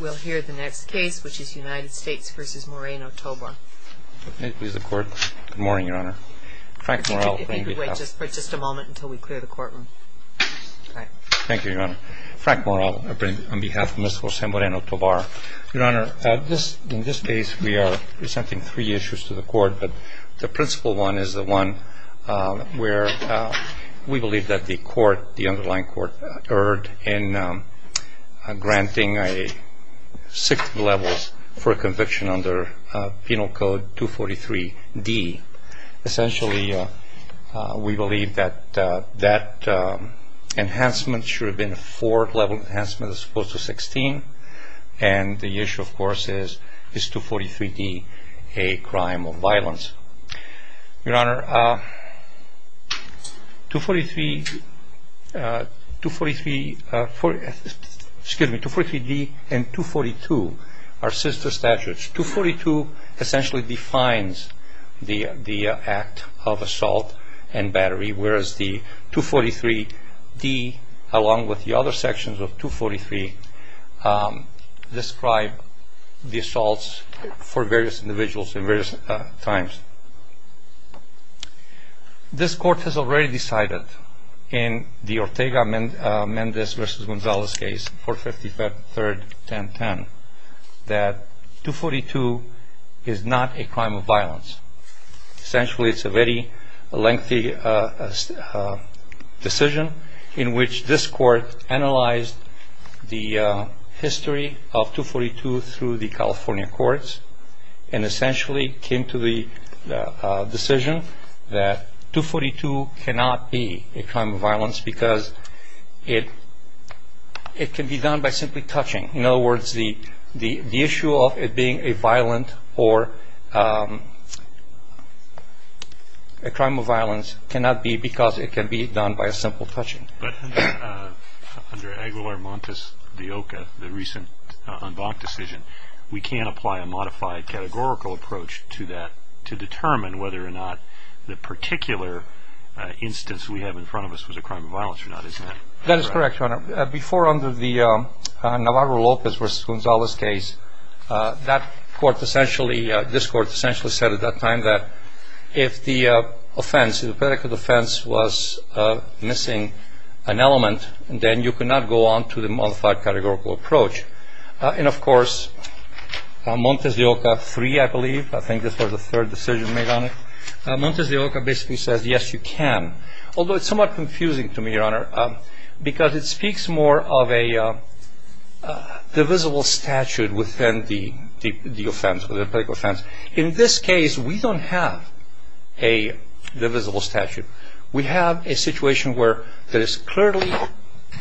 We'll hear the next case, which is United States v. Moreno-Tobar. Good morning, Your Honor. Frank Morrell, on behalf of Ms. Jose Moreno-Tobar. Your Honor, in this case we are presenting three issues to the court, but the principal one is the one where we believe that the court, the underlying court, erred in granting six levels for conviction under Penal Code 243d. Essentially, we believe that that enhancement should have been a four-level enhancement as opposed to 16, and the issue, of course, is 243d, a crime of violence. Your Honor, 243d and 242 are sister statutes. 242 essentially defines the act of assault and battery, whereas the 243d, along with the other sections of 243, describe the assaults for various individuals at various times. This court has already decided in the Ortega-Mendez v. Gonzalez case, 453rd 1010, that 242 is not a crime of violence. Essentially, it's a very lengthy decision in which this court analyzed the history of 242 through the California courts and essentially came to the decision that 242 cannot be a crime of violence because it can be done by simply touching. In other words, the issue of it being a violent or a crime of violence cannot be because it can be done by a simple touching. But under Aguilar-Montes de Oca, the recent en banc decision, we can apply a modified categorical approach to that to determine whether or not the particular instance we have in front of us was a crime of violence or not, isn't it? That is correct, Your Honor. Before, under the Navarro-Lopez v. Gonzalez case, this court essentially said at that time that if the offense, if the particular offense was missing an element, then you could not go on to the modified categorical approach. And, of course, Montes de Oca 3, I believe, I think this was the third decision made on it, Montes de Oca basically says, yes, you can, although it's somewhat confusing to me, Your Honor, because it speaks more of a divisible statute within the offense, within the particular offense. In this case, we don't have a divisible statute. We have a situation where there is clearly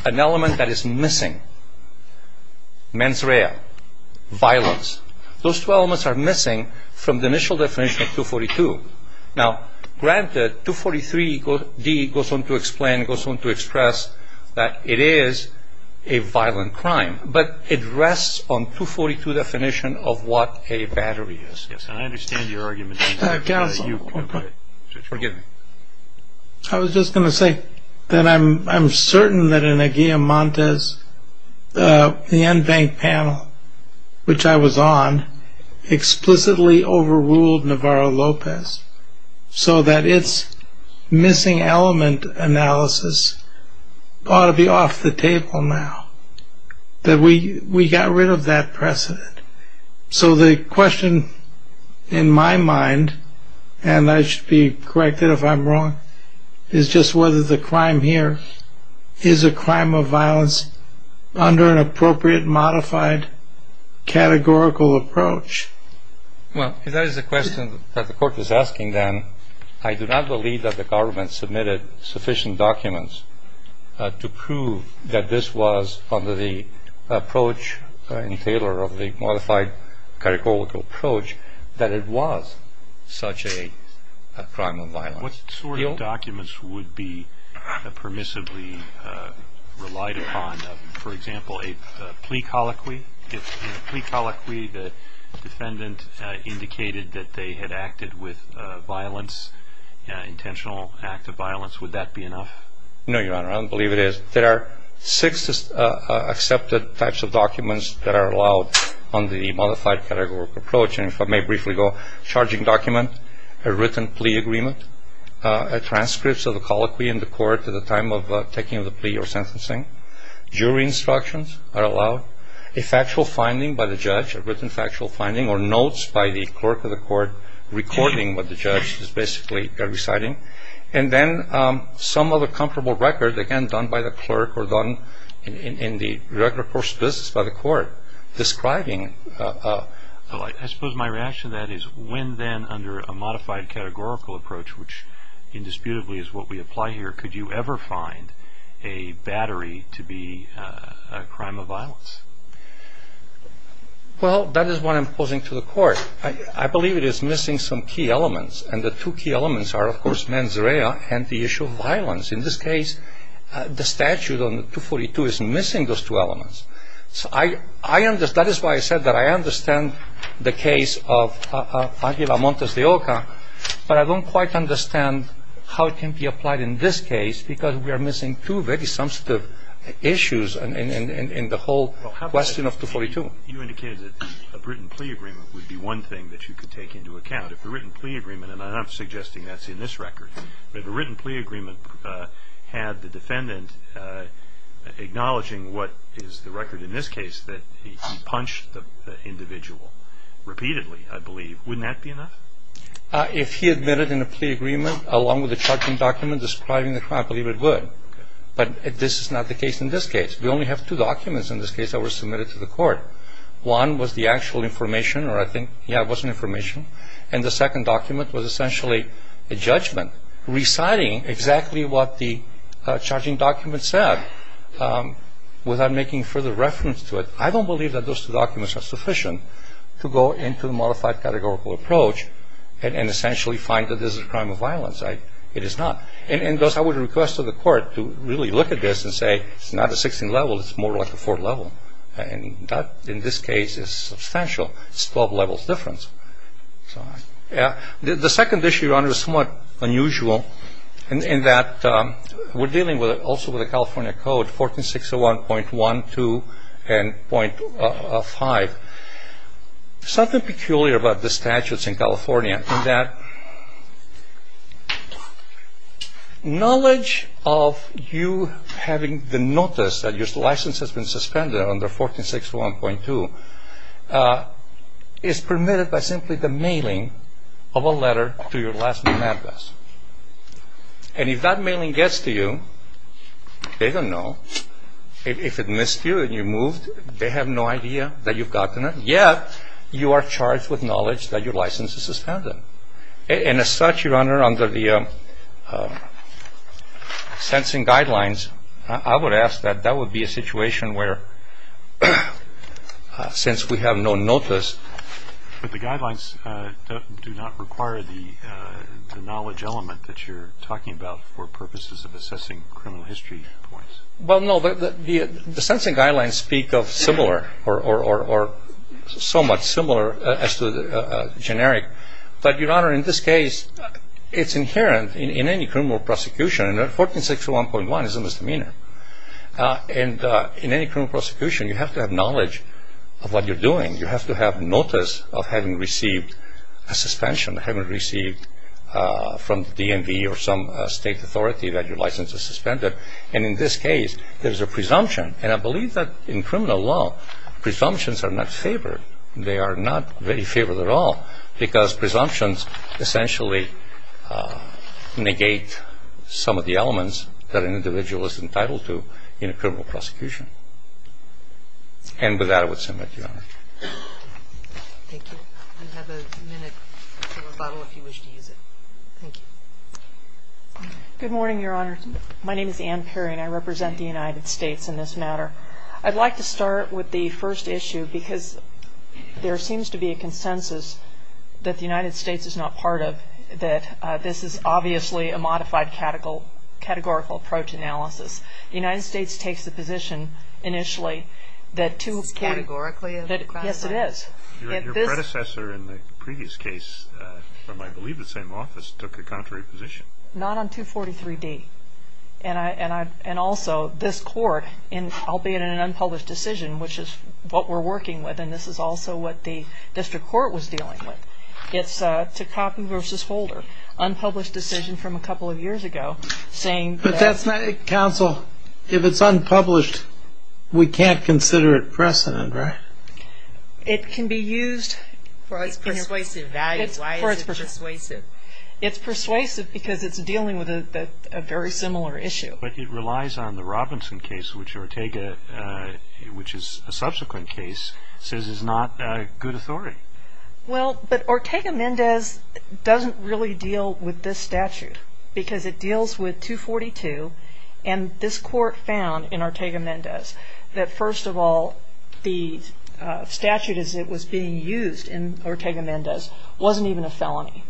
an element that is missing, mens rea, violence. Those two elements are missing from the initial definition of 242. Now, granted, 243d goes on to explain, goes on to express that it is a violent crime, but it rests on 242 definition of what a battery is. Yes, and I understand your argument. Counsel, forgive me. I was just going to say that I'm certain that in a Guilliam-Montes, the en banc panel, which I was on, explicitly overruled Navarro-Lopez, so that its missing element analysis ought to be off the table now, that we got rid of that precedent. So the question in my mind, and I should be corrected if I'm wrong, is just whether the crime here is a crime of violence under an appropriate modified categorical approach. Well, if that is the question that the court is asking, then I do not believe that the government submitted sufficient documents to prove that this was under the approach in Taylor of the modified categorical approach that it was such a crime of violence. What sort of documents would be permissibly relied upon? For example, a plea colloquy? If in a plea colloquy the defendant indicated that they had acted with violence, intentional act of violence, would that be enough? No, Your Honor, I don't believe it is. There are six accepted types of documents that are allowed on the modified categorical approach, and if I may briefly go, charging document, a written plea agreement, transcripts of the colloquy in the court at the time of taking of the plea or sentencing, jury instructions are allowed, a factual finding by the judge, a written factual finding, or notes by the clerk of the court recording what the judge is basically reciting, and then some other comparable record, again, done by the clerk or done in the record of course, this is by the court describing. I suppose my reaction to that is when then under a modified categorical approach, which indisputably is what we apply here, could you ever find a battery to be a crime of violence? Well, that is what I'm posing to the court. I believe it is missing some key elements, and the two key elements are, of course, mens rea and the issue of violence. In this case, the statute on 242 is missing those two elements. That is why I said that I understand the case of Aguilar Montes de Oca, but I don't quite understand how it can be applied in this case because we are missing two very substantive issues in the whole question of 242. You indicated that a written plea agreement would be one thing that you could take into account. If a written plea agreement, and I'm not suggesting that's in this record, but if a written plea agreement had the defendant acknowledging what is the record in this case, that he punched the individual repeatedly, I believe, wouldn't that be enough? If he admitted in a plea agreement along with the charging document describing the crime, I believe it would, but this is not the case in this case. We only have two documents in this case that were submitted to the court. One was the actual information, or I think, yeah, it was information, and the second document was essentially a judgment reciting exactly what the charging document said without making further reference to it. I don't believe that those two documents are sufficient to go into a modified categorical approach and essentially find that this is a crime of violence. It is not. And thus, I would request to the court to really look at this and say, it's not a 16th level, it's more like a 4th level, and that, in this case, is substantial. It's a 12 levels difference. The second issue, Your Honor, is somewhat unusual in that we're dealing also with a California Code, 1461.12.5. Something peculiar about the statutes in California in that knowledge of you having the notice that your license has been suspended under 1461.2 is permitted by simply the mailing of a letter to your last name address. And if that mailing gets to you, they don't know. If it missed you and you moved, they have no idea that you've gotten it, yet you are charged with knowledge that your license is suspended. And as such, Your Honor, under the sensing guidelines, I would ask that that would be a situation where, since we have no notice. But the guidelines do not require the knowledge element that you're talking about for purposes of assessing criminal history points. Well, no. The sensing guidelines speak of similar or somewhat similar as to the generic. But, Your Honor, in this case, it's inherent in any criminal prosecution. 1461.1 is a misdemeanor. And in any criminal prosecution, you have to have knowledge of what you're doing. You have to have notice of having received a suspension, having received from the DMV or some state authority that your license is suspended. And in this case, there's a presumption. And I believe that in criminal law, presumptions are not favored. They are not very favored at all because presumptions essentially negate some of the elements that an individual is entitled to in a criminal prosecution. And with that, I would submit, Your Honor. Thank you. We have a minute for rebuttal if you wish to use it. Thank you. Good morning, Your Honor. My name is Ann Perry, and I represent the United States in this matter. I'd like to start with the first issue because there seems to be a consensus that the United States is not part of, that this is obviously a modified categorical approach analysis. The United States takes the position initially that two of the cases. Is this categorically a crime? Yes, it is. Your predecessor in the previous case from, I believe, the same office took the contrary position. Not on 243-D. And also, this court, albeit in an unpublished decision, which is what we're working with, and this is also what the district court was dealing with, it's Takaki v. Holder, unpublished decision from a couple of years ago, saying that... But that's not it, counsel. If it's unpublished, we can't consider it precedent, right? It can be used... It's persuasive value. Why is it persuasive? It's persuasive because it's dealing with a very similar issue. But it relies on the Robinson case, which Ortega, which is a subsequent case, says is not a good authority. Well, but Ortega-Mendez doesn't really deal with this statute because it deals with 242, and this court found in Ortega-Mendez that, first of all, the statute as it was being used in Ortega-Mendez wasn't even a felony.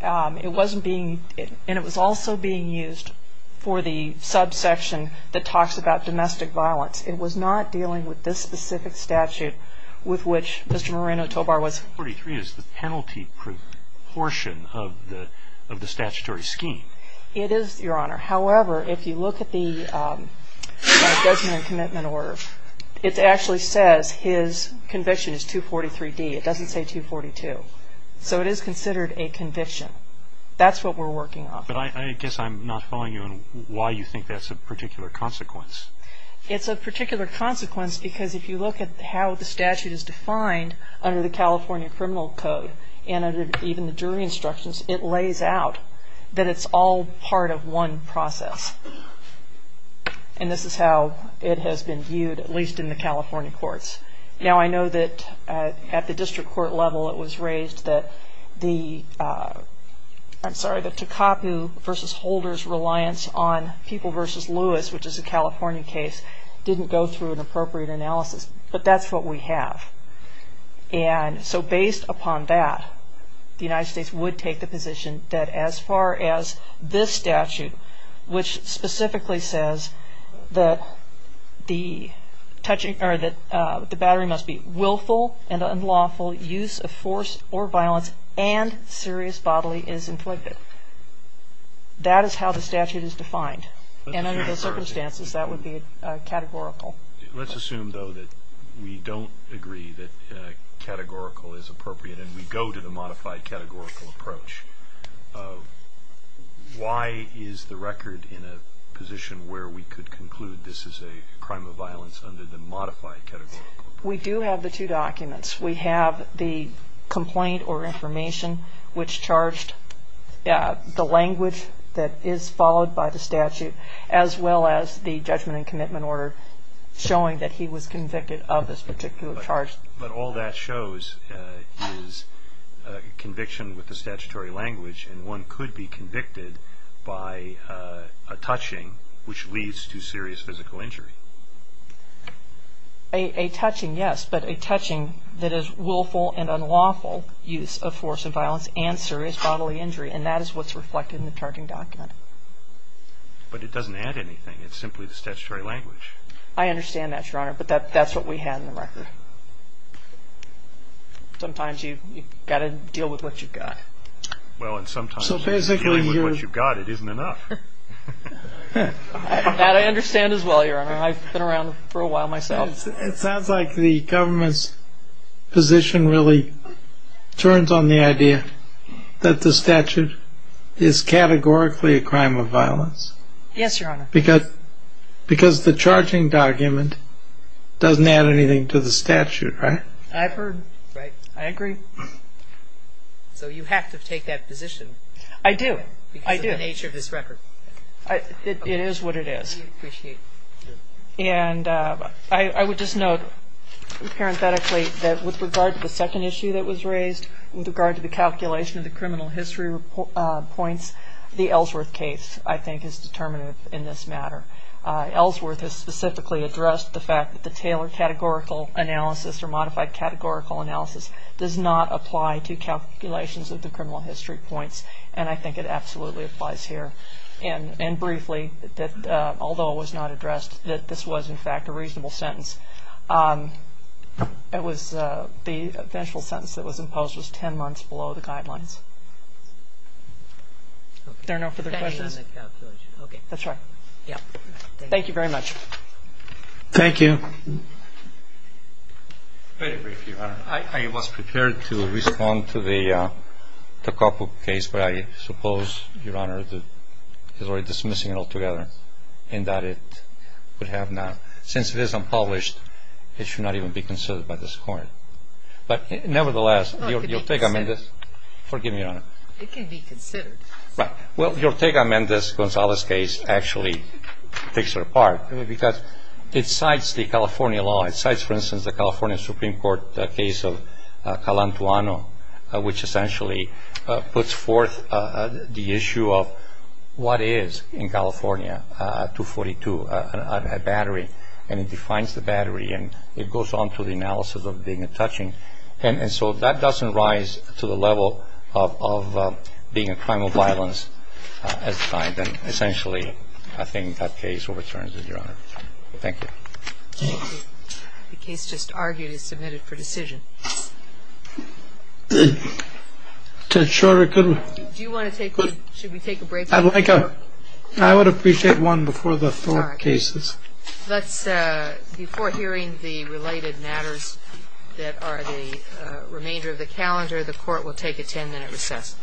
It wasn't being... And it was also being used for the subsection that talks about domestic violence. It was not dealing with this specific statute with which Mr. Moreno-Tobar was... 243 is the penalty portion of the statutory scheme. It is, Your Honor. However, if you look at the judgment and commitment order, it actually says his conviction is 243D. It doesn't say 242. So it is considered a conviction. That's what we're working on. But I guess I'm not following you on why you think that's a particular consequence. It's a particular consequence because if you look at how the statute is defined under the California Criminal Code and under even the jury instructions, it lays out that it's all part of one process. And this is how it has been viewed, at least in the California courts. Now, I know that at the district court level it was raised that the... I'm sorry, the Tecapu v. Holder's reliance on People v. Lewis, which is a California case, didn't go through an appropriate analysis. But that's what we have. And so based upon that, the United States would take the position that as far as this statute, which specifically says that the battery must be willful and unlawful use of force or violence and serious bodily is inflicted. That is how the statute is defined. And under the circumstances, that would be categorical. Let's assume, though, that we don't agree that categorical is appropriate and we go to the modified categorical approach. Why is the record in a position where we could conclude this is a crime of violence under the modified categorical? We do have the two documents. We have the complaint or information which charged the language that is followed by the statute, as well as the judgment and commitment order showing that he was convicted of this particular charge. But all that shows is conviction with the statutory language, and one could be convicted by a touching which leads to serious physical injury. A touching, yes, but a touching that is willful and unlawful use of force and violence and serious bodily injury, and that is what's reflected in the charging document. But it doesn't add anything. It's simply the statutory language. I understand that, Your Honor, but that's what we had in the record. Sometimes you've got to deal with what you've got. Well, and sometimes dealing with what you've got, it isn't enough. That I understand as well, Your Honor. I've been around for a while myself. It sounds like the government's position really turns on the idea that the statute is categorically a crime of violence. Yes, Your Honor. Because the charging document doesn't add anything to the statute, right? I've heard. Right. I agree. So you have to take that position. I do. I do. Because of the nature of this record. It is what it is. We appreciate it. And I would just note parenthetically that with regard to the second issue that was raised, with regard to the calculation of the criminal history points, the Ellsworth case, I think, is determinative in this matter. Ellsworth has specifically addressed the fact that the Taylor categorical analysis or modified categorical analysis does not apply to calculations of the criminal history points, and I think it absolutely applies here. And briefly, although it was not addressed, that this was, in fact, a reasonable sentence. It was the eventual sentence that was imposed was 10 months below the guidelines. Are there no further questions? Okay. That's right. Yeah. Thank you. Very briefly, Your Honor. I was prepared to respond to the Takapu case, but I suppose, Your Honor, that he's already dismissing it altogether in that it would have not, since it is unpublished, it should not even be considered by this Court. But nevertheless, your take on this. Forgive me, Your Honor. It can be considered. Right. Well, your take on this Gonzalez case actually takes it apart because it cites the California law. It cites, for instance, the California Supreme Court case of Calantuano, which essentially puts forth the issue of what is in California 242 a battery, and it defines the battery, and it goes on to the analysis of being a touching. And so that doesn't rise to the level of being a crime of violence as defined, and essentially I think that case overturns it, Your Honor. Thank you. Thank you. The case just argued is submitted for decision. Sure. Do you want to take one? Should we take a break? I would appreciate one before the four cases. All right. Before hearing the related matters that are the remainder of the calendar, the Court will take a ten-minute recess.